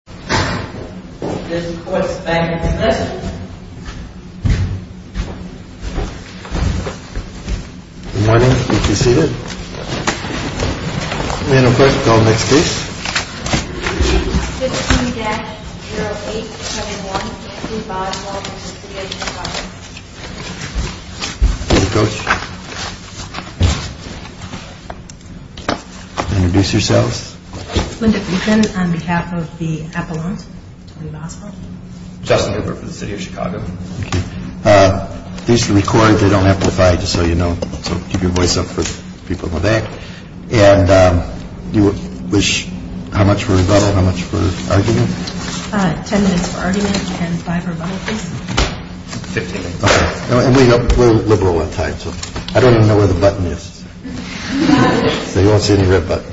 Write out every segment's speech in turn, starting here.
15-0821 Duvall and Walton v. City of Chicago 15-0821 Duvall and Walton v. City of Chicago We're liberal on time, so I don't even know where the button is. So you won't see any red button.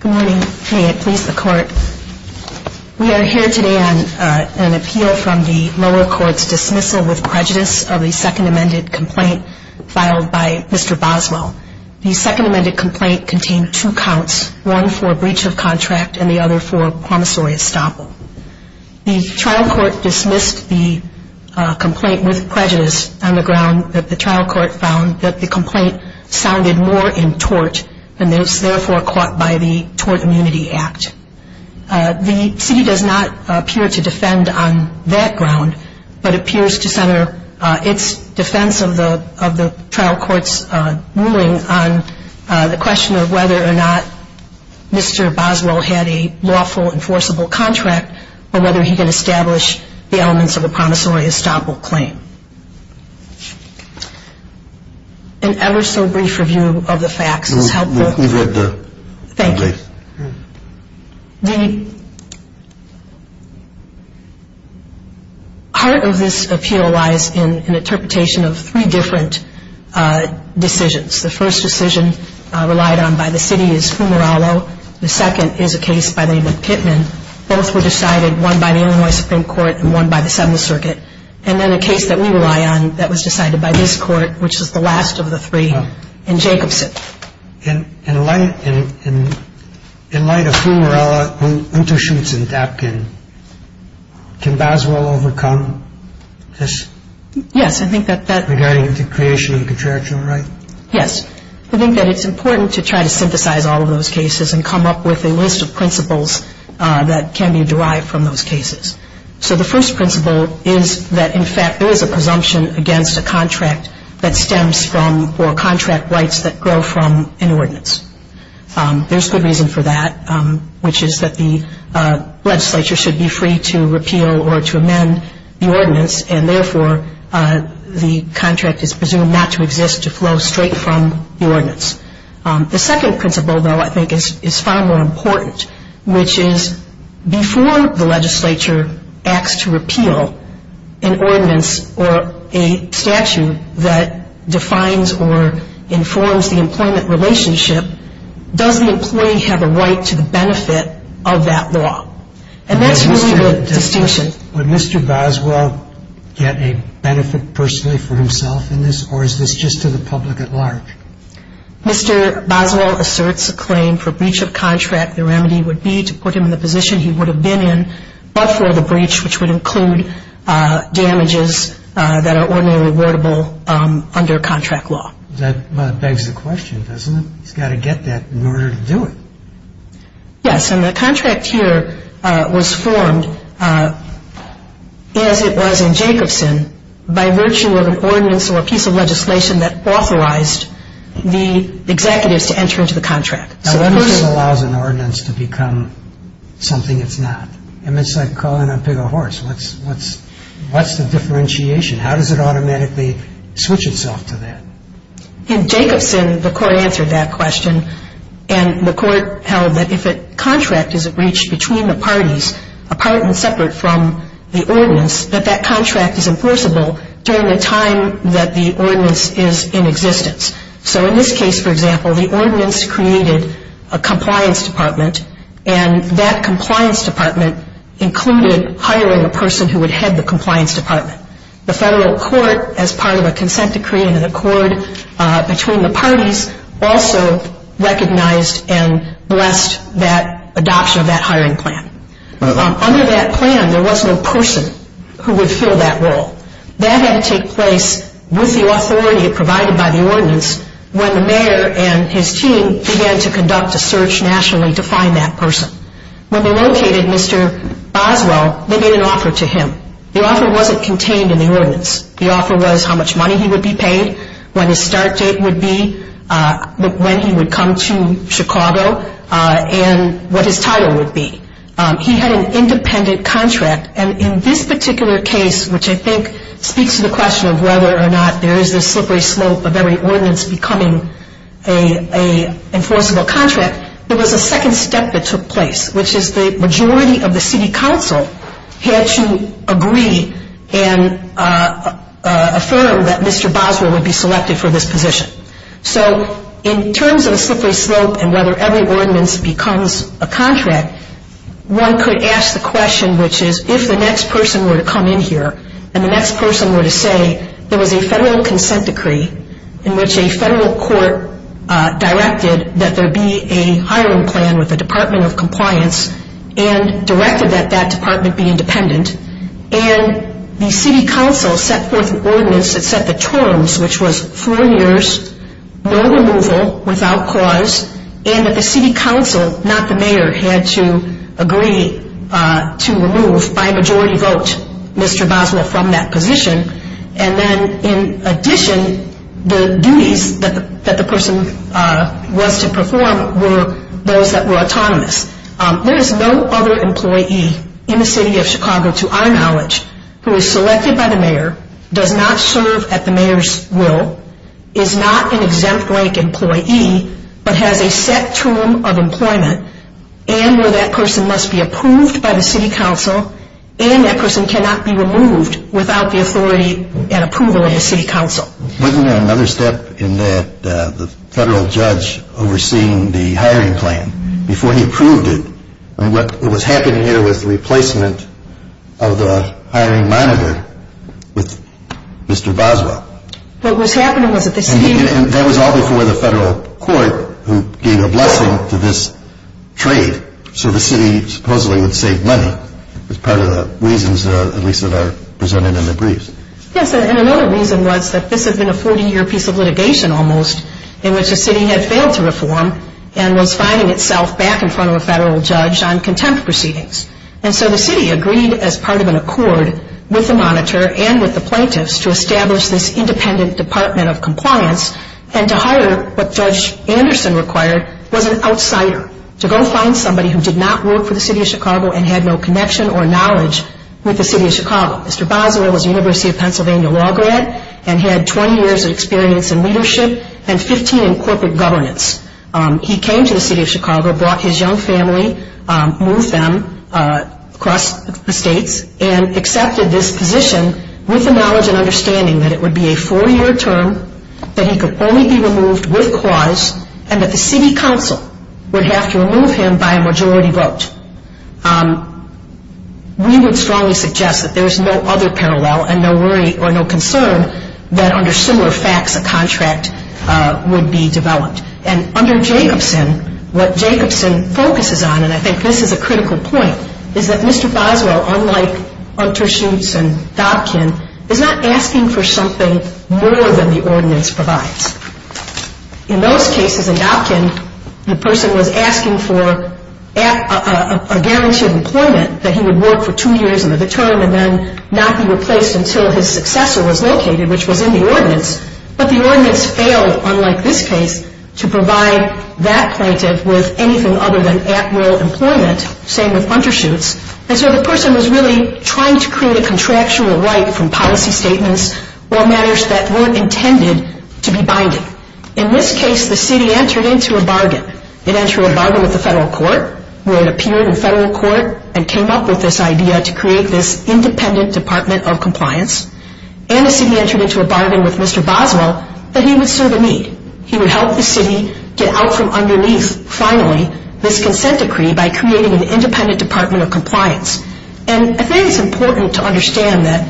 Good morning. May it please the Court. We are here today on an appeal from the lower court's dismissal with prejudice of the second amended complaint filed by Mr. Boswell. The second amended complaint contained two counts, one for breach of contract and the other for promissory estoppel. The trial court dismissed the complaint with prejudice on the ground that the trial court found that the complaint sounded more in tort and was therefore caught by the Tort Immunity Act. The city does not appear to defend on that ground, but appears to center its defense of the trial court's ruling on the question of whether or not Mr. Boswell had a lawful, enforceable contract or whether he could establish the elements of a promissory estoppel claim. An ever-so-brief review of the facts is helpful. Thank you. The heart of this appeal lies in an interpretation of three different decisions. The first decision relied on by the city is Fumarallo. The second is a case by the name of Pittman. Both were decided, one by the Illinois Supreme Court and one by the Seventh Circuit. And then a case that we rely on that was decided by this court, which is the last of the three, in Jacobson. In light of Fumarallo, who intershoots in Dapkin, can Boswell overcome this? Yes, I think that that's… Regarding the creation of a contractual right? Yes. I think that it's important to try to synthesize all of those cases and come up with a list of principles that can be derived from those cases. So the first principle is that, in fact, there is a presumption against a contract that stems from or contract rights that grow from an ordinance. There's good reason for that, which is that the legislature should be free to repeal or to amend the ordinance, and therefore the contract is presumed not to exist to flow straight from the ordinance. The second principle, though, I think is far more important, which is before the legislature acts to repeal an ordinance or a statute that defines or informs the employment relationship, does the employee have a right to the benefit of that law? And that's really the distinction. Would Mr. Boswell get a benefit personally for himself in this, or is this just to the public at large? Mr. Boswell asserts a claim for breach of contract. The remedy would be to put him in the position he would have been in but for the breach, which would include damages that are ordinarily rewardable under contract law. That begs the question, doesn't it? He's got to get that in order to do it. Yes, and the contract here was formed as it was in Jacobson by virtue of an ordinance or a piece of legislation that authorized the executives to enter into the contract. Now, what if it allows an ordinance to become something it's not? I mean, it's like calling a pig a horse. What's the differentiation? How does it automatically switch itself to that? In Jacobson, the court answered that question, and the court held that if a contract is breached between the parties, apart and separate from the ordinance, that that contract is enforceable during the time that the ordinance is in existence. So in this case, for example, the ordinance created a compliance department, and that compliance department included hiring a person who would head the compliance department. The Federal Court, as part of a consent decree and an accord between the parties, also recognized and blessed that adoption of that hiring plan. Under that plan, there was no person who would fill that role. That had to take place with the authority provided by the ordinance when the mayor and his team began to conduct a search nationally to find that person. When they located Mr. Boswell, they made an offer to him. The offer wasn't contained in the ordinance. The offer was how much money he would be paid, when his start date would be, when he would come to Chicago, and what his title would be. He had an independent contract, and in this particular case, which I think speaks to the question of whether or not there is this slippery slope of every ordinance becoming an enforceable contract, there was a second step that took place, which is the majority of the city council had to agree and affirm that Mr. Boswell would be selected for this position. So in terms of a slippery slope and whether every ordinance becomes a contract, one could ask the question, which is, if the next person were to come in here and the next person were to say there was a federal consent decree in which a federal court directed that there be a hiring plan with the Department of Compliance and directed that that department be independent, and the city council set forth an ordinance that set the terms, which was four years, no removal without cause, and that the city council, not the mayor, had to agree to remove, by majority vote, Mr. Boswell from that position. And then, in addition, the duties that the person was to perform were those that were autonomous. There is no other employee in the city of Chicago, to our knowledge, who is selected by the mayor, does not serve at the mayor's will, is not an exempt rank employee, but has a set term of employment, and where that person must be approved by the city council, and that person cannot be removed without the authority and approval of the city council. Wasn't there another step in that the federal judge overseeing the hiring plan, before he approved it, and what was happening here was the replacement of the hiring monitor with Mr. Boswell? What was happening was that the city... And that was all before the federal court, who gave a blessing to this trade, so the city supposedly would save money, as part of the reasons, at least, that are presented in the briefs. Yes, and another reason was that this had been a 40-year piece of litigation, almost, in which the city had failed to reform and was finding itself back in front of a federal judge on contempt proceedings. And so the city agreed, as part of an accord with the monitor and with the plaintiffs, to establish this independent department of compliance, and to hire what Judge Anderson required was an outsider, to go find somebody who did not work for the city of Chicago and had no connection or knowledge with the city of Chicago. Mr. Boswell was a University of Pennsylvania law grad and had 20 years of experience in leadership and 15 in corporate governance. He came to the city of Chicago, brought his young family, moved them across the states, and accepted this position with the knowledge and understanding that it would be a four-year term that he could only be removed with clause and that the city council would have to remove him by a majority vote. We would strongly suggest that there is no other parallel and no worry or no concern that under similar facts a contract would be developed. And under Jacobson, what Jacobson focuses on, and I think this is a critical point, is that Mr. Boswell, unlike Unterschutz and Dobkin, is not asking for something more than the ordinance provides. In those cases, in Dobkin, the person was asking for a guarantee of employment that he would work for two years and then not be replaced until his successor was located, which was in the ordinance, but the ordinance failed, unlike this case, to provide that plaintiff with anything other than at-will employment, same with Unterschutz. And so the person was really trying to create a contractual right from policy statements or matters that weren't intended to be binding. In this case, the city entered into a bargain. It entered a bargain with the federal court, where it appeared in federal court and came up with this idea to create this independent department of compliance, and the city entered into a bargain with Mr. Boswell that he would serve a need. He would help the city get out from underneath, finally, this consent decree by creating an independent department of compliance. And I think it's important to understand that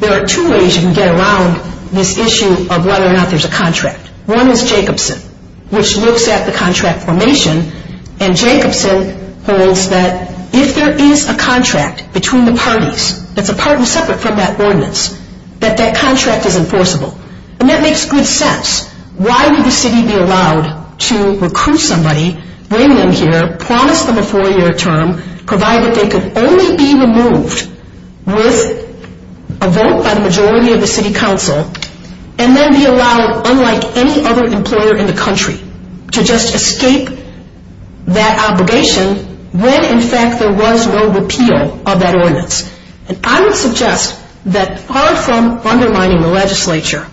there are two ways you can get around this issue of whether or not there's a contract. One is Jacobson, which looks at the contract formation, and Jacobson holds that if there is a contract between the parties, that's a pardon separate from that ordinance, that that contract is enforceable. And that makes good sense. Why would the city be allowed to recruit somebody, bring them here, promise them a four-year term, provide that they could only be removed with a vote by the majority of the city council, and then be allowed, unlike any other employer in the country, to just escape that obligation when, in fact, there was no repeal of that ordinance? And I would suggest that far from undermining the legislature,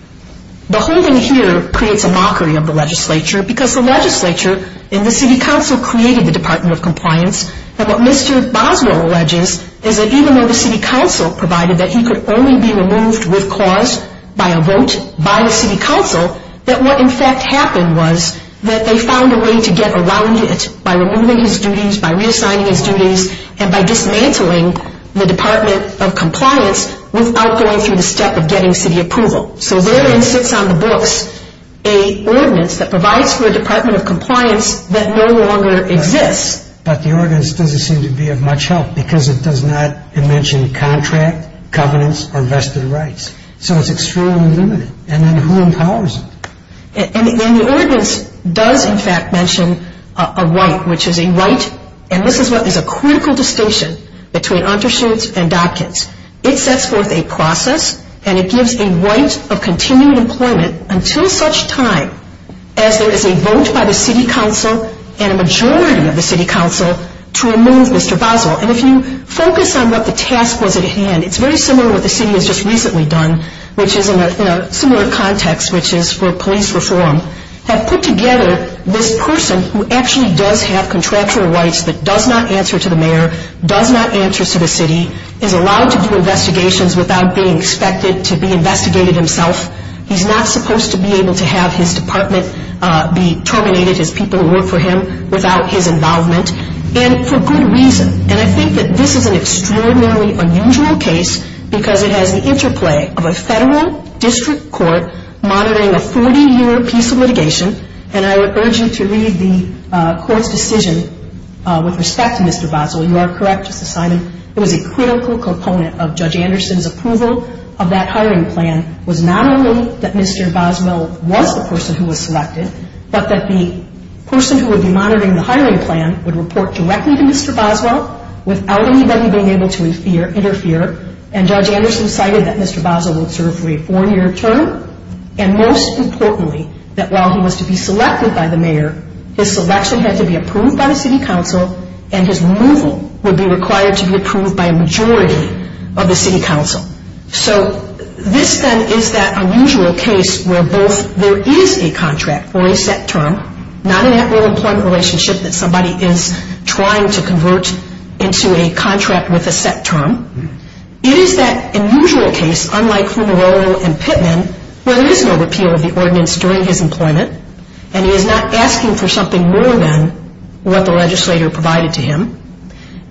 the holding here creates a mockery of the legislature because the legislature and the city council created the department of compliance. And what Mr. Boswell alleges is that even though the city council provided that he could only be removed with cause by a vote by the city council, that what, in fact, happened was that they found a way to get around it by removing his duties, by reassigning his duties, and by dismantling the department of compliance without going through the step of getting city approval. So therein sits on the books an ordinance that provides for a department of compliance that no longer exists. But the ordinance doesn't seem to be of much help because it does not mention contract, covenants, or vested rights. So it's extremely limited. And then who empowers it? And the ordinance does, in fact, mention a right, which is a right, and this is what is a critical distinction between undershoes and dockets. It sets forth a process and it gives a right of continued employment until such time as there is a vote by the city council and a majority of the city council to remove Mr. Boswell. And if you focus on what the task was at hand, it's very similar to what the city has just recently done, which is in a similar context, which is for police reform, have put together this person who actually does have contractual rights but does not answer to the mayor, does not answer to the city, is allowed to do investigations without being expected to be investigated himself, he's not supposed to be able to have his department be terminated, his people who work for him, without his involvement, and for good reason. And I think that this is an extraordinarily unusual case because it has the interplay of a federal district court monitoring a 40-year piece of litigation, and I would urge you to read the court's decision with respect to Mr. Boswell. You are correct, Justice Simon. It was a critical component of Judge Anderson's approval of that hiring plan was not only that Mr. Boswell was the person who was selected, but that the person who would be monitoring the hiring plan would report directly to Mr. Boswell without anybody being able to interfere, and Judge Anderson cited that Mr. Boswell would serve for a four-year term, and most importantly, that while he was to be selected by the mayor, his selection had to be approved by the city council, and his removal would be required to be approved by a majority of the city council. So this, then, is that unusual case where both there is a contract for a set term, not an at-will employment relationship that somebody is trying to convert into a contract with a set term. It is that unusual case, unlike Funarol and Pittman, where there is no repeal of the ordinance during his employment, and he is not asking for something more than what the legislator provided to him,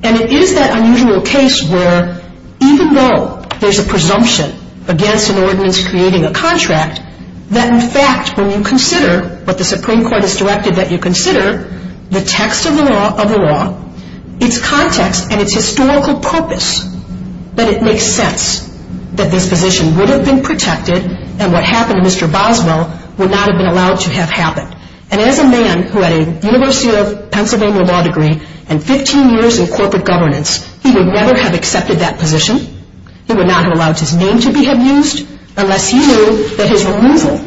and it is that unusual case where even though there is a presumption against an ordinance creating a contract, that in fact when you consider what the Supreme Court has directed that you consider the text of the law, its context and its historical purpose, that it makes sense that this position would have been protected and what happened to Mr. Boswell would not have been allowed to have happened. And as a man who had a University of Pennsylvania law degree and 15 years in corporate governance, he would never have accepted that position. He would not have allowed his name to be abused unless he knew that his removal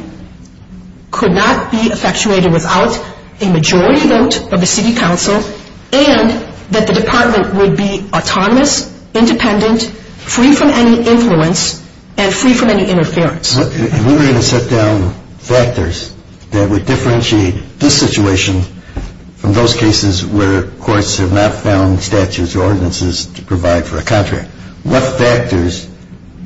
could not be effectuated without a majority vote of the city council and that the department would be autonomous, independent, free from any influence and free from any interference. We were going to set down factors that would differentiate this situation from those cases where courts have not found statutes or ordinances to provide for a contract. What factors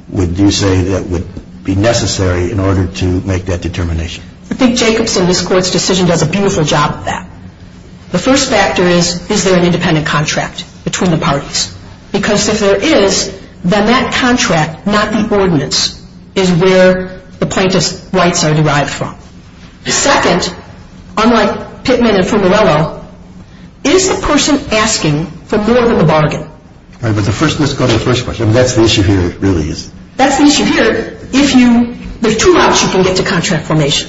would you say that would be necessary in order to make that determination? I think Jacobson, this court's decision, does a beautiful job of that. The first factor is, is there an independent contract between the parties? Because if there is, then that contract, not the ordinance, is where the plaintiff's rights are derived from. Second, unlike Pittman and Fumarello, is the person asking for more than the bargain? All right, but let's go to the first question. That's the issue here really is. That's the issue here. There are two routes you can get to contract formation.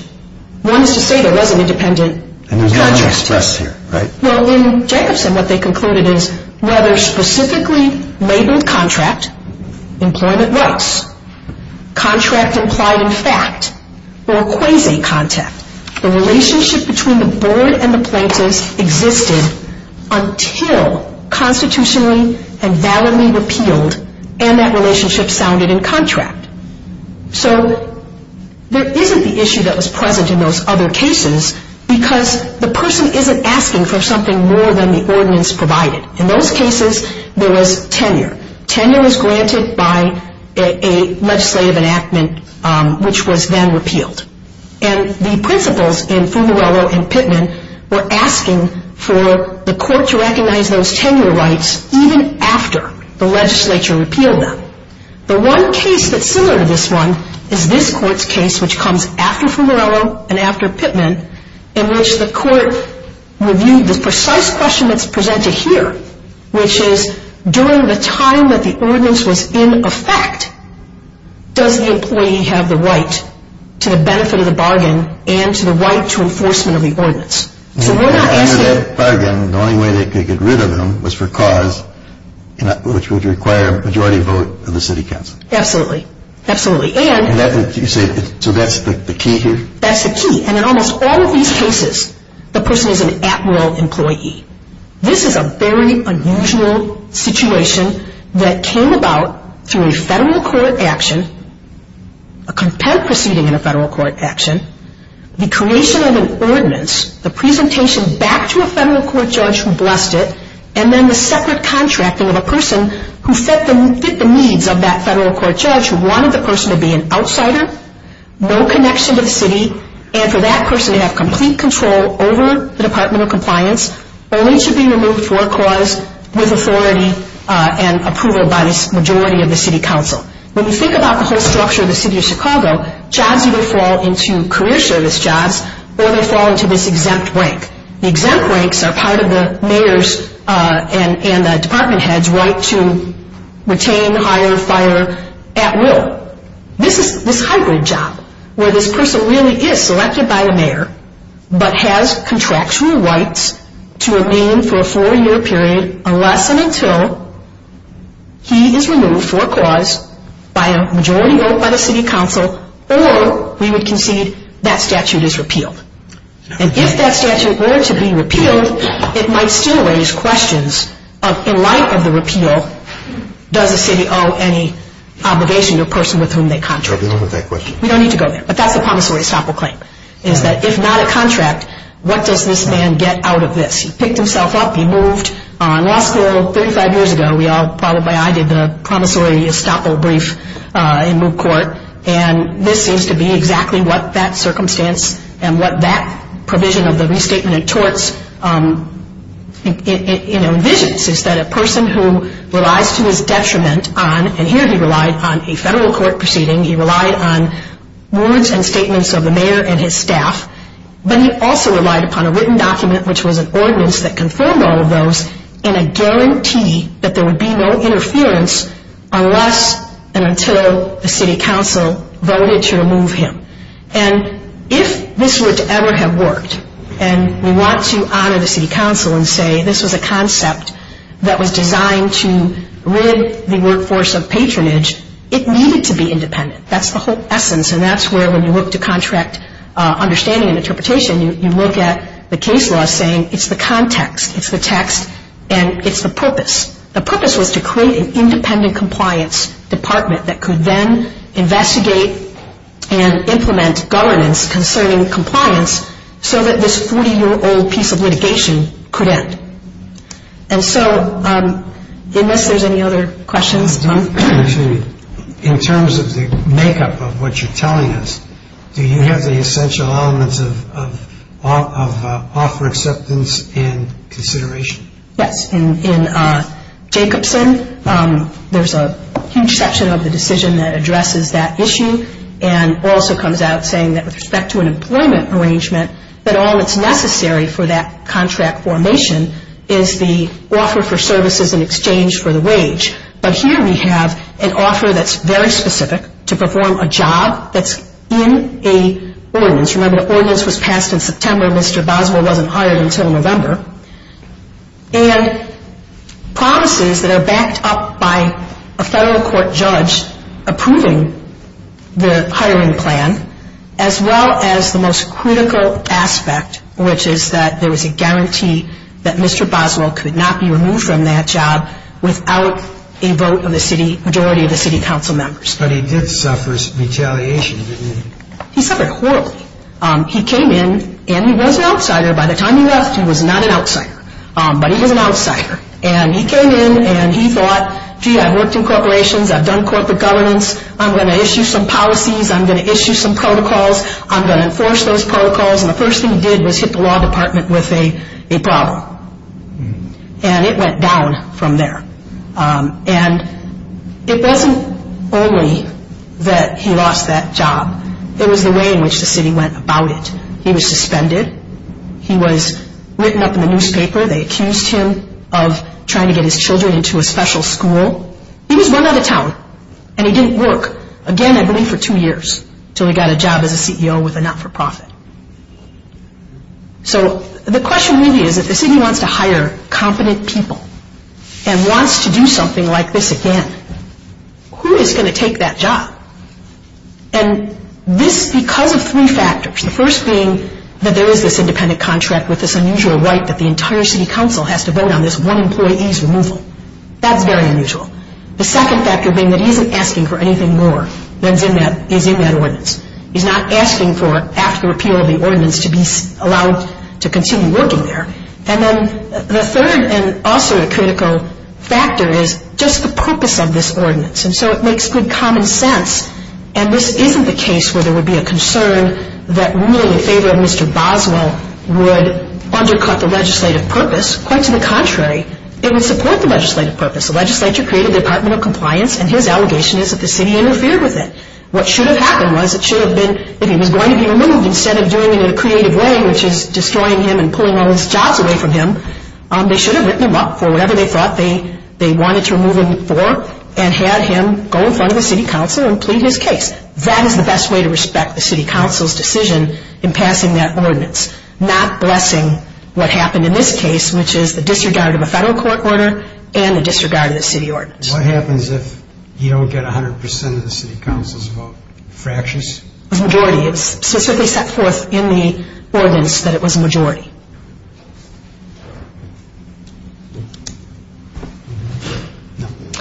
One is to say there was an independent contract. And there's no express here, right? Well, in Jacobson, what they concluded is whether specifically labeled contract, employment rights, contract implied in fact, or a quasi-contract. The relationship between the board and the plaintiffs existed until constitutionally and validly repealed and that relationship sounded in contract. So there isn't the issue that was present in those other cases because the person isn't asking for something more than the ordinance provided. In those cases, there was tenure. Tenure was granted by a legislative enactment which was then repealed. And the principles in Fumarello and Pittman were asking for the court to recognize those tenure rights even after the legislature repealed them. The one case that's similar to this one is this court's case, which comes after Fumarello and after Pittman, in which the court reviewed the precise question that's presented here, which is during the time that the ordinance was in effect, does the employee have the right to the benefit of the bargain and to the right to enforcement of the ordinance? So we're not asking... Under that bargain, the only way they could get rid of them was for cause which would require a majority vote of the city council. Absolutely. Absolutely. And... So that's the key here? That's the key. And in almost all of these cases, the person is an at-will employee. This is a very unusual situation that came about through a federal court action, a contempt proceeding in a federal court action, the creation of an ordinance, the presentation back to a federal court judge who blessed it, and then the separate contracting of a person who fit the needs of that federal court judge who wanted the person to be an outsider, no connection to the city, and for that person to have complete control over the departmental compliance, only to be removed for cause with authority and approval by the majority of the city council. When you think about the whole structure of the city of Chicago, jobs either fall into career service jobs or they fall into this exempt rank. The exempt ranks are part of the mayor's and the department head's right to retain, hire, fire at will. This is this hybrid job where this person really is selected by the mayor but has contractual rights to remain for a four-year period unless and until he is removed for cause by a majority vote by the city council or we would concede that statute is repealed. And if that statute were to be repealed, it might still raise questions in light of the repeal, does the city owe any obligation to a person with whom they contract? We don't need to go there, but that's the promissory estoppel claim, is that if not a contract, what does this man get out of this? He picked himself up, he moved. In law school 35 years ago, we all probably, I did the promissory estoppel brief in moot court, and this seems to be exactly what that circumstance and what that provision of the restatement of torts envisions, is that a person who relies to his detriment on, and here he relied on a federal court proceeding, he relied on words and statements of the mayor and his staff, but he also relied upon a written document, which was an ordinance that confirmed all of those in a guarantee that there would be no interference unless and until the city council voted to remove him. And if this were to ever have worked, and we want to honor the city council and say this was a concept that was designed to rid the workforce of patronage, it needed to be independent, that's the whole essence, and that's where when you look to contract understanding and interpretation, you look at the case law saying it's the context, it's the text, and it's the purpose. The purpose was to create an independent compliance department that could then investigate and implement governance concerning compliance so that this 40-year-old piece of litigation could end. And so unless there's any other questions. In terms of the makeup of what you're telling us, do you have the essential elements of offer acceptance and consideration? Yes. In Jacobson, there's a huge section of the decision that addresses that issue and also comes out saying that with respect to an employment arrangement, that all that's necessary for that contract formation is the offer for services in exchange for the wage. But here we have an offer that's very specific to perform a job that's in a ordinance. Remember, the ordinance was passed in September. Mr. Boswell wasn't hired until November. And promises that are backed up by a federal court judge approving the hiring plan, as well as the most critical aspect, which is that there was a guarantee that Mr. Boswell could not be removed from that job without a vote of the majority of the city council members. But he did suffer retaliation, didn't he? He suffered horribly. He came in and he was an outsider. By the time he left, he was not an outsider. But he was an outsider. And he came in and he thought, gee, I've worked in corporations. I've done corporate governance. I'm going to issue some policies. I'm going to issue some protocols. I'm going to enforce those protocols. And the first thing he did was hit the law department with a problem. And it went down from there. And it wasn't only that he lost that job. It was the way in which the city went about it. He was suspended. He was written up in the newspaper. They accused him of trying to get his children into a special school. He was run out of town. And he didn't work again, I believe, for two years until he got a job as a CEO with a not-for-profit. So the question really is if the city wants to hire competent people and wants to do something like this again, who is going to take that job? And this is because of three factors, the first being that there is this independent contract with this unusual right that the entire city council has to vote on this one employee's removal. That's very unusual. The second factor being that he isn't asking for anything more than is in that ordinance. He's not asking for, after the repeal of the ordinance, to be allowed to continue working there. And then the third and also a critical factor is just the purpose of this ordinance. And so it makes good common sense. And this isn't the case where there would be a concern that ruling in favor of Mr. Boswell would undercut the legislative purpose. Quite to the contrary, it would support the legislative purpose. The legislature created the Department of Compliance, and his allegation is that the city interfered with it. What should have happened was it should have been that he was going to be removed Instead of doing it in a creative way, which is destroying him and pulling all his jobs away from him, they should have written him up for whatever they thought they wanted to remove him for and had him go in front of the city council and plead his case. That is the best way to respect the city council's decision in passing that ordinance, not blessing what happened in this case, which is the disregard of a federal court order and the disregard of the city ordinance. What happens if you don't get 100 percent of the city council's vote? Fractions? A majority. It was specifically set forth in the ordinance that it was a majority.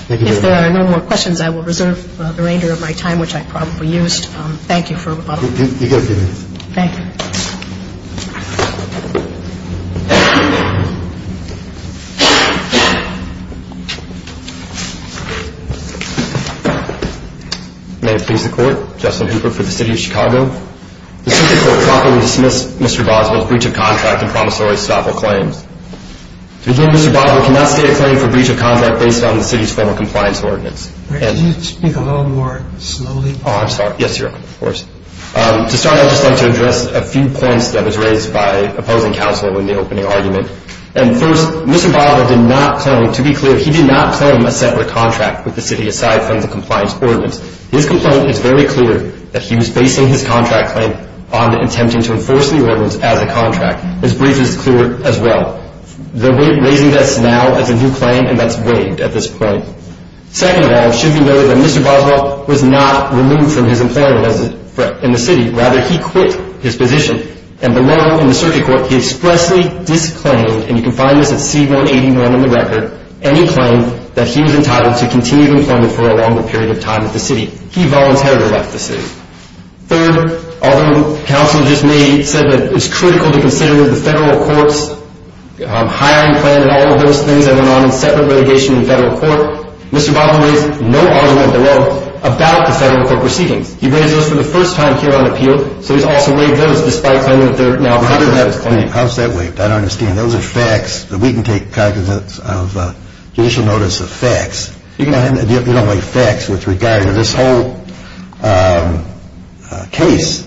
Thank you very much. If there are no more questions, I will reserve the reindeer of my time, which I probably used. Thank you. You've got a few minutes. Thank you. May it please the court. Justin Hooper for the city of Chicago. The circuit court properly dismissed Mr. Boswell's breach of contract and promissory stop all claims. To begin, Mr. Boswell cannot state a claim for breach of contract based on the city's formal compliance ordinance. Can you speak a little more slowly? Yes, Your Honor, of course. To start, I'd just like to address a few points that was raised by opposing counsel in the opening argument. First, Mr. Boswell did not claim, to be clear, he did not claim a separate contract with the city aside from the compliance ordinance. His complaint is very clear that he was basing his contract claim on attempting to enforce the ordinance as a contract. His breach is clear as well. They're raising this now as a new claim, and that's waived at this point. Second of all, it should be noted that Mr. Boswell was not removed from his employment in the city. Rather, he quit his position. And below, in the circuit court, he expressly disclaimed, and you can find this at C-181 in the record, any claim that he was entitled to continued employment for a longer period of time at the city. He voluntarily left the city. Third, although counsel just may have said that it's critical to consider the federal court's hiring plan and all of those things that went on in separate relegation in federal court, Mr. Boswell raised no argument at all about the federal court proceedings. He raised those for the first time here on appeal, so he's also waived those despite claiming that they're now part of his claim. How's that waived? I don't understand. Those are facts. We can take cognizance of judicial notice of facts. You don't like facts with regard to this whole case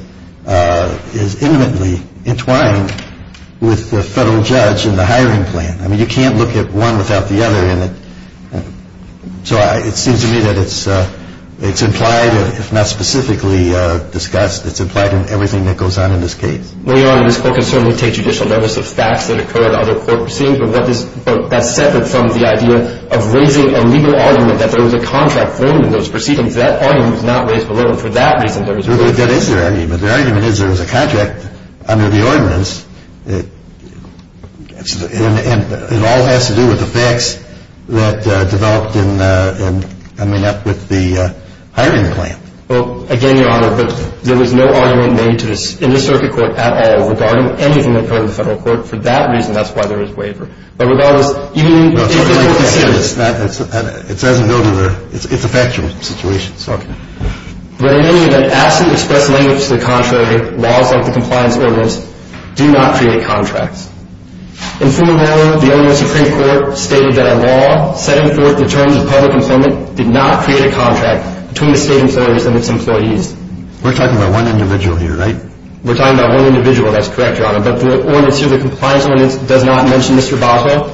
is intimately entwined with the federal judge and the hiring plan. I mean, you can't look at one without the other in it. So it seems to me that it's implied, if not specifically discussed, it's implied in everything that goes on in this case. Well, Your Honor, this court can certainly take judicial notice of facts that occur in other court proceedings, but that's separate from the idea of raising a legal argument that there was a contract formed in those proceedings. That argument was not raised below, and for that reason, there was a legal argument. It all has to do with the facts that developed in, I mean, up with the hiring plan. Well, again, Your Honor, there was no argument made in this circuit court at all regarding anything that occurred in the federal court. For that reason, that's why there is waiver. But regardless, even if the court considers it's a factual situation. But in any event, as to express language to the contrary, laws like the compliance ordinance do not create contracts. And furthermore, the OAS Supreme Court stated that a law setting forth the terms of public employment did not create a contract between the state employers and its employees. We're talking about one individual here, right? We're talking about one individual, that's correct, Your Honor. But the ordinance here, the compliance ordinance, does not mention Mr. Boswell?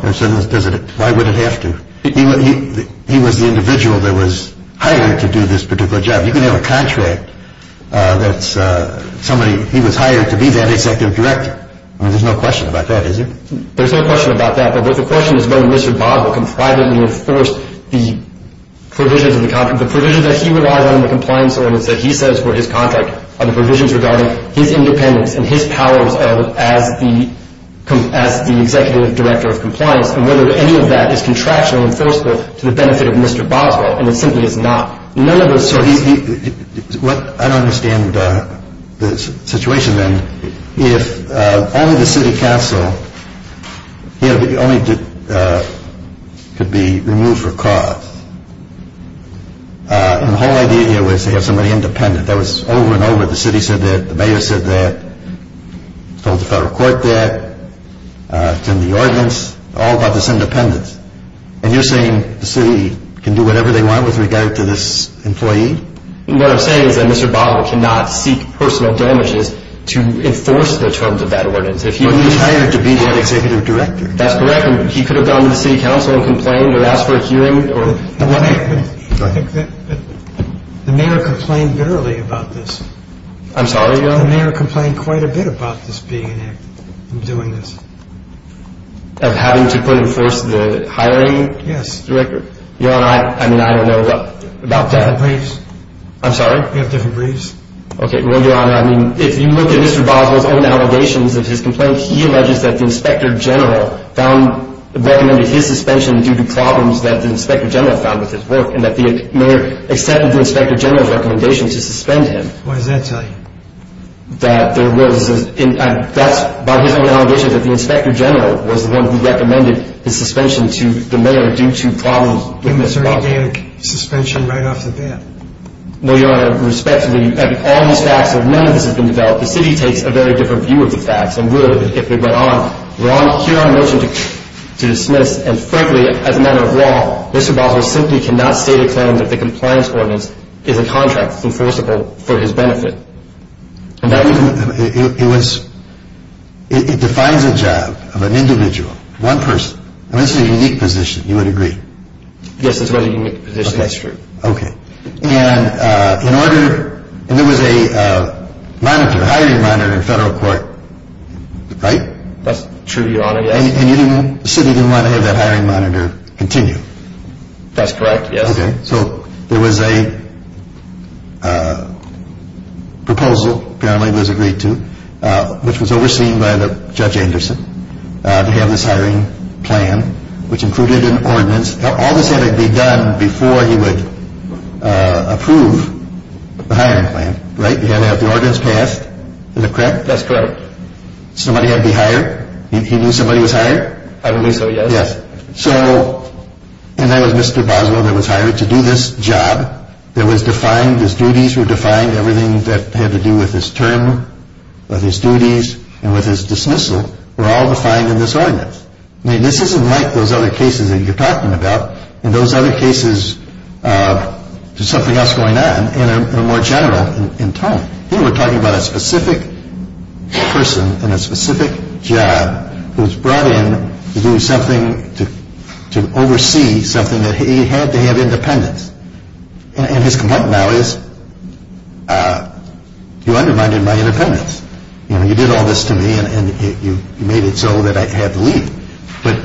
Why would it have to? He was the individual that was hired to do this particular job. You can have a contract that's somebody, he was hired to be that executive director. I mean, there's no question about that, is there? There's no question about that. But the question is whether Mr. Boswell can privately enforce the provisions of the contract. The provisions that he relies on in the compliance ordinance that he says were his contract are the provisions regarding his independence and his powers as the executive director of compliance and whether any of that is contractually enforceable to the benefit of Mr. Boswell. And it simply is not. I don't understand the situation then. If only the city council could be removed for cause. And the whole idea here was to have somebody independent. That was over and over. The city said that. The mayor said that. Told the federal court that. It's in the ordinance. All about this independence. And you're saying the city can do whatever they want with regard to this employee? What I'm saying is that Mr. Boswell cannot seek personal damages to enforce the terms of that ordinance. But he was hired to be that executive director. That's correct. He could have gone to the city council and complained or asked for a hearing. The mayor complained bitterly about this. I'm sorry? The mayor complained quite a bit about this being enacted, doing this. Of having to put in place the hiring director? Yes. Your Honor, I don't know about that. We have different briefs. I'm sorry? We have different briefs. Okay. Well, Your Honor, if you look at Mr. Boswell's own allegations of his complaint, he alleges that the inspector general recommended his suspension due to problems that the inspector general found with his work and that the mayor accepted the inspector general's recommendation to suspend him. What does that tell you? That there was a – that's by his own allegation that the inspector general was the one who recommended his suspension to the mayor due to problems with his work. It was organic suspension right off the bat. No, Your Honor, respectfully, of all these facts, if none of this has been developed, the city takes a very different view of the facts and would if it went on. Your Honor, here I motion to dismiss, and frankly, as a matter of law, Mr. Boswell simply cannot state a claim that the compliance ordinance is a contract enforceable for his benefit. It was – it defines a job of an individual, one person, and this is a unique position. You would agree? Yes, it's a very unique position. That's true. Okay. And in order – and there was a monitor, a hiring monitor in federal court, right? That's true, Your Honor. And you didn't – the city didn't want to have that hiring monitor continue? That's correct, yes. Okay. So there was a proposal, apparently it was agreed to, which was overseen by Judge Anderson to have this hiring plan, which included an ordinance. All this had to be done before he would approve the hiring plan, right? You had to have the ordinance passed. Is that correct? That's correct. Somebody had to be hired? He knew somebody was hired? I believe so, yes. Yes. So – and there was Mr. Boswell that was hired to do this job that was defined, his duties were defined, everything that had to do with his term, with his duties, and with his dismissal were all defined in this ordinance. I mean, this isn't like those other cases that you're talking about. In those other cases, there's something else going on in a more general – in tone. Here we're talking about a specific person in a specific job who was brought in to do something, to oversee something that he had to have independence. And his complaint now is, you undermined my independence. You did all this to me and you made it so that I had to leave. But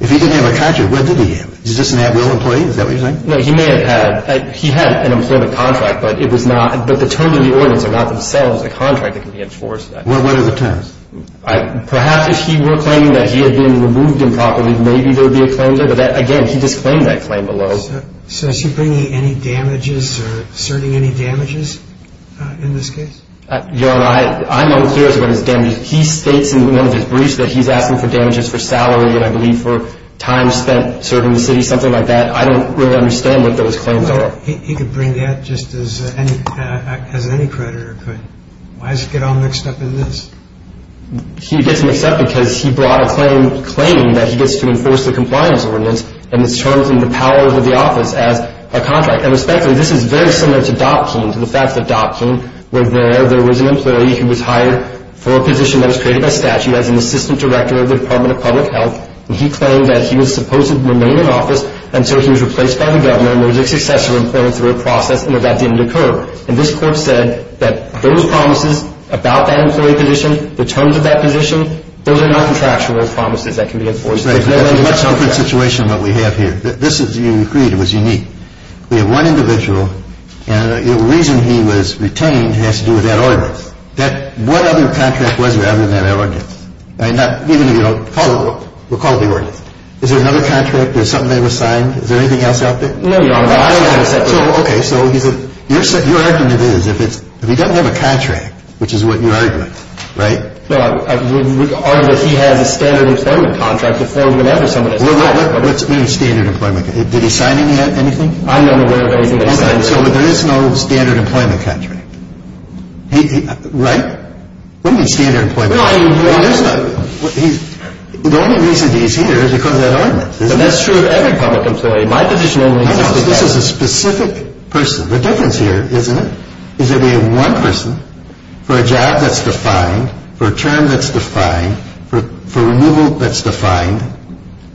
if he didn't have a contract, what did he have? He just an at-will employee? Is that what you're saying? No, he may have had – he had an employment contract, but it was not – but the terms of the ordinance are not themselves the contract that can be enforced. What are the terms? Perhaps if he were claiming that he had been removed improperly, maybe there would be a claim there. But again, he just claimed that claim below. So is he bringing any damages or asserting any damages in this case? Your Honor, I'm unclear as to what his damages – he states in one of his briefs that he's asking for damages for salary and I believe for time spent serving the city, something like that. I don't really understand what those claims are. He could bring that just as any creditor could. Why does it get all mixed up in this? He gets mixed up because he brought a claim claiming that he gets to enforce the compliance ordinance and it's termed in the powers of the office as a contract. And respectfully, this is very similar to Dopkin, to the fact that Dopkin was there. There was an employee who was hired for a position that was created by statute as an assistant director of the Department of Public Health. And he claimed that he was supposed to remain in office until he was replaced by the governor and there was a success of employment through a process and that didn't occur. And this court said that those promises about that employee position, the terms of that position, those are not contractual promises that can be enforced. That's a much different situation than what we have here. This, as you agreed, was unique. We have one individual and the reason he was retained has to do with that ordinance. What other contract was there other than that ordinance? Even if you don't recall it, recall the ordinance. Is there another contract or something that was signed? Is there anything else out there? No, Your Honor. Okay, so he said, your argument is if he doesn't have a contract, which is what your argument, right? No, I would argue that he has a standard employment contract to form whenever someone is hired. What do you mean standard employment? Did he sign anything? I'm unaware of anything that he signed. So there is no standard employment contract, right? What do you mean standard employment? The only reason he's here is because of that ordinance, isn't it? That's true of every public employee. My position only exists with that. I know, but this is a specific person. The difference here, isn't it, is that we have one person for a job that's defined, for a term that's defined, for a rule that's defined.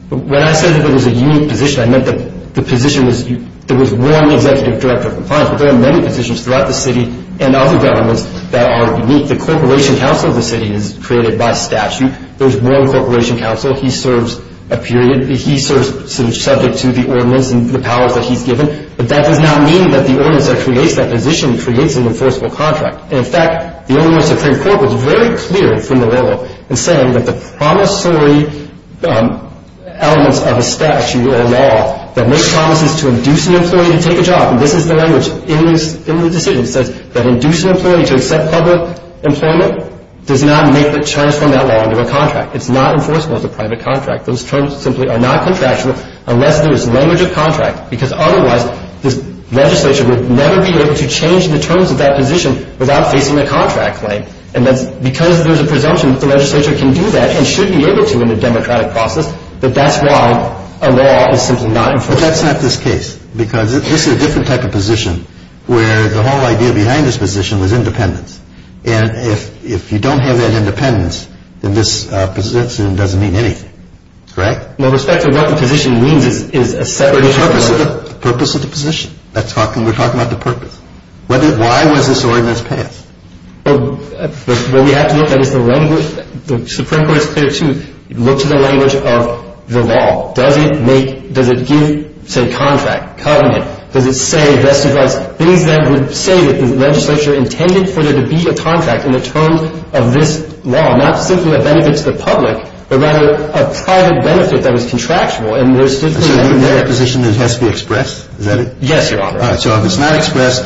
When I said that there was a unique position, I meant that the position was unique. There was one executive director of compliance, but there are many positions throughout the city and other governments that are unique. The corporation council of the city is created by statute. There's one corporation council. He serves a period. He serves subject to the ordinance and the powers that he's given, but that does not mean that the ordinance that creates that position creates an enforceable contract. In fact, the only Supreme Court was very clear from the rule in saying that the promissory elements of a statute or a law that makes promises to induce an employee to take a job, and this is the language in the decision, says that induce an employee to accept public employment does not make or transform that law into a contract. It's not enforceable as a private contract. Those terms simply are not contractual unless there is language of contract, because otherwise this legislature would never be able to change the terms of that position without facing a contract claim. And because there's a presumption that the legislature can do that and should be able to in a democratic process, that that's why a law is simply not enforceable. But that's not this case, because this is a different type of position where the whole idea behind this position was independence. And if you don't have that independence, then this position doesn't mean anything, correct? With respect to what the position means is a separate issue. The purpose of the position. We're talking about the purpose. Why was this ordinance passed? Well, we have to look at the language. The Supreme Court is clear, too. Look to the language of the law. Does it make – does it give, say, contract, covenant? Does it say, rest in God's, things that would say that the legislature intended for there to be a contract in the terms of this law, not simply a benefit to the public, but rather a private benefit that was contractual, and there's definitely a benefit there. So the position has to be expressed, is that it? Yes, Your Honor. All right. So if it's not expressed,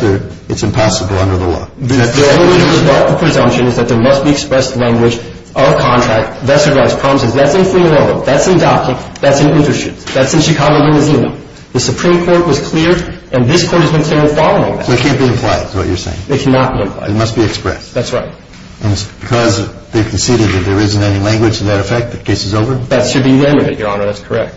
it's impossible under the law. The presumption is that there must be expressed language of contract, vested rights, promises. That's in Fremantle. That's in Dockick. That's in Interstate. That's in Chicago, Louisiana. The Supreme Court was clear, and this Court has been clear in following that. So it can't be implied, is what you're saying? It cannot be implied. It must be expressed. That's right. And because they've conceded that there isn't any language to that effect, the case is over? That should be limited, Your Honor. That's correct.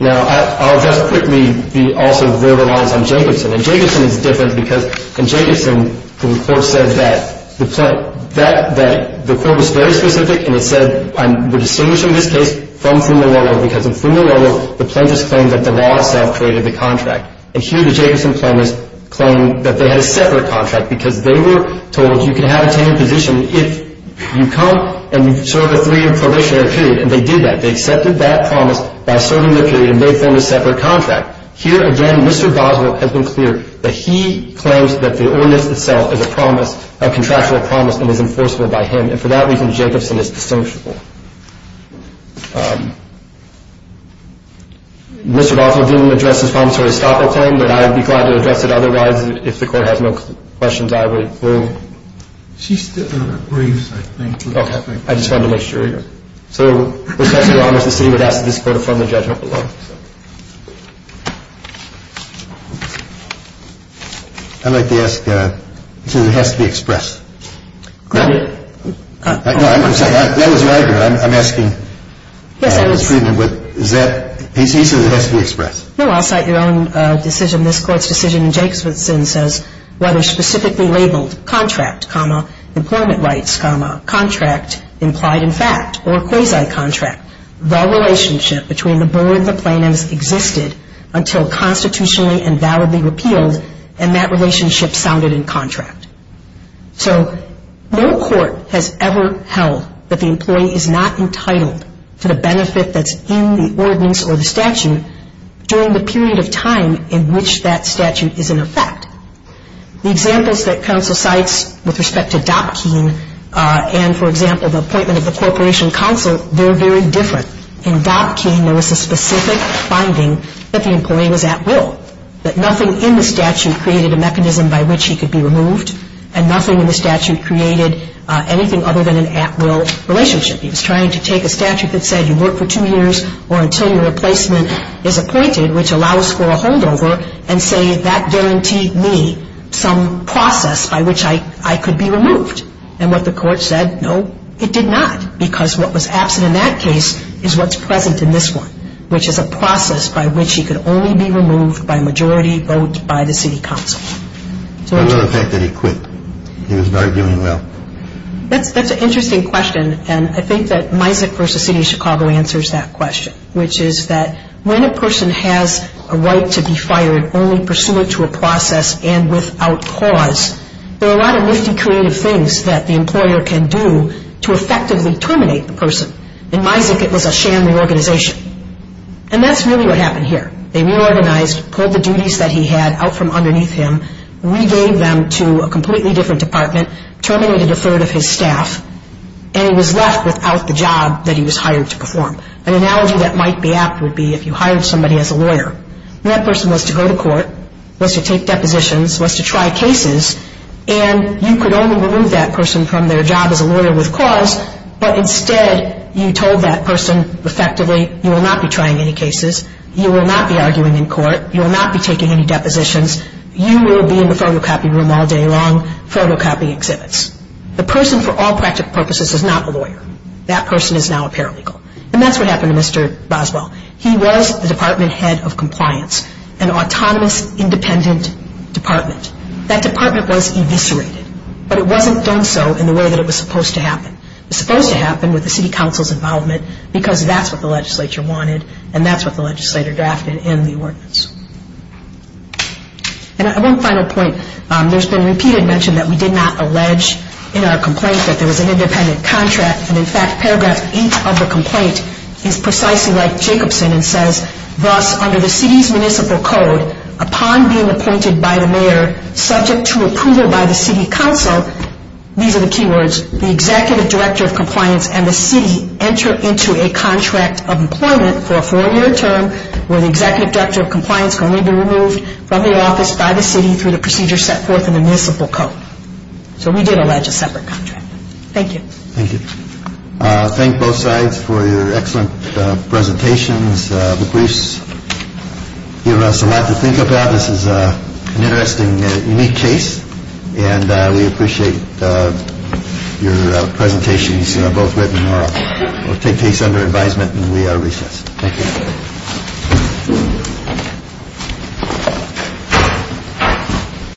Now, I'll just quickly be also verbalized on Jacobson. And Jacobson is different because in Jacobson, the report said that the court was very specific, and it said, I'm distinguishing this case from Fremantle because in Fremantle, the plaintiffs claimed that the law itself created the contract. And here the Jacobson claimants claimed that they had a separate contract because they were told you can have a tenured position if you come and serve a three-year probationary period, and they did that. They accepted that promise by serving their period and they formed a separate contract. Here again, Mr. Boswell has been clear that he claims that the ordinance itself is a promise, a contractual promise, and is enforceable by him. And for that reason, Jacobson is distinguishable. Mr. Boswell didn't address his promissory stopper claim, but I would be glad to address it otherwise. If the Court has no questions, I would move. She still agrees, I think. Okay. I just wanted to make sure. So with respect to the promise, the city would ask that this Court affirm the judgment below. I'd like to ask, so it has to be expressed. No, I'm sorry. That was your argument. I'm asking. Yes, I was. Is that, he says it has to be expressed. No, I'll cite your own decision. This Court's decision in Jacobson says, whether specifically labeled contract, employment rights, contract implied in fact, or quasi-contract. The relationship between the board and the plaintiffs existed until constitutionally and validly repealed, and that relationship sounded in contract. So no court has ever held that the employee is not entitled to the benefit that's in the ordinance or the statute during the period of time in which that statute is in effect. The examples that counsel cites with respect to Dopkein and, for example, the appointment of the Corporation Counsel, they're very different. In Dopkein, there was a specific finding that the employee was at will, that nothing in the statute created a mechanism by which he could be removed, and nothing in the statute created anything other than an at-will relationship. He was trying to take a statute that said you work for two years or until your replacement is appointed, which allows for a holdover, and say that guaranteed me some process by which I could be removed. And what the court said, no, it did not, because what was absent in that case is what's present in this one, which is a process by which he could only be removed by majority vote by the city council. Another fact that he quit. He was not doing well. That's an interesting question, and I think that MISAC v. City of Chicago answers that question, which is that when a person has a right to be fired only pursuant to a process and without cause, there are a lot of nifty creative things that the employer can do to effectively terminate the person. In MISAC, it was a sham reorganization, and that's really what happened here. They reorganized, pulled the duties that he had out from underneath him, regave them to a completely different department, terminated a third of his staff, and he was left without the job that he was hired to perform. An analogy that might be apt would be if you hired somebody as a lawyer, and that person was to go to court, was to take depositions, was to try cases, and you could only remove that person from their job as a lawyer with cause, but instead you told that person effectively you will not be trying any cases, you will not be arguing in court, you will not be taking any depositions, you will be in the photocopy room all day long photocopying exhibits. The person, for all practical purposes, is not a lawyer. That person is now a paralegal. And that's what happened to Mr. Boswell. He was the department head of compliance, an autonomous, independent department. That department was eviscerated, but it wasn't done so in the way that it was supposed to happen. It was supposed to happen with the city council's involvement because that's what the legislature wanted, and that's what the legislator drafted in the ordinance. And one final point. There's been repeated mention that we did not allege in our complaint that there was an independent contract, and, in fact, paragraph 8 of the complaint is precisely like Jacobson and says, thus, under the city's municipal code, upon being appointed by the mayor, subject to approval by the city council, these are the key words, the executive director of compliance and the city enter into a contract of employment for a four-year term where the executive director of compliance can only be removed from the office by the city through the procedure set forth in the municipal code. So we did allege a separate contract. Thank you. Thank you. Thank both sides for your excellent presentations. The briefs give us a lot to think about. This is an interesting, unique case, and we appreciate your presentations, both written or take place under advisement. And we are recessed. Thank you.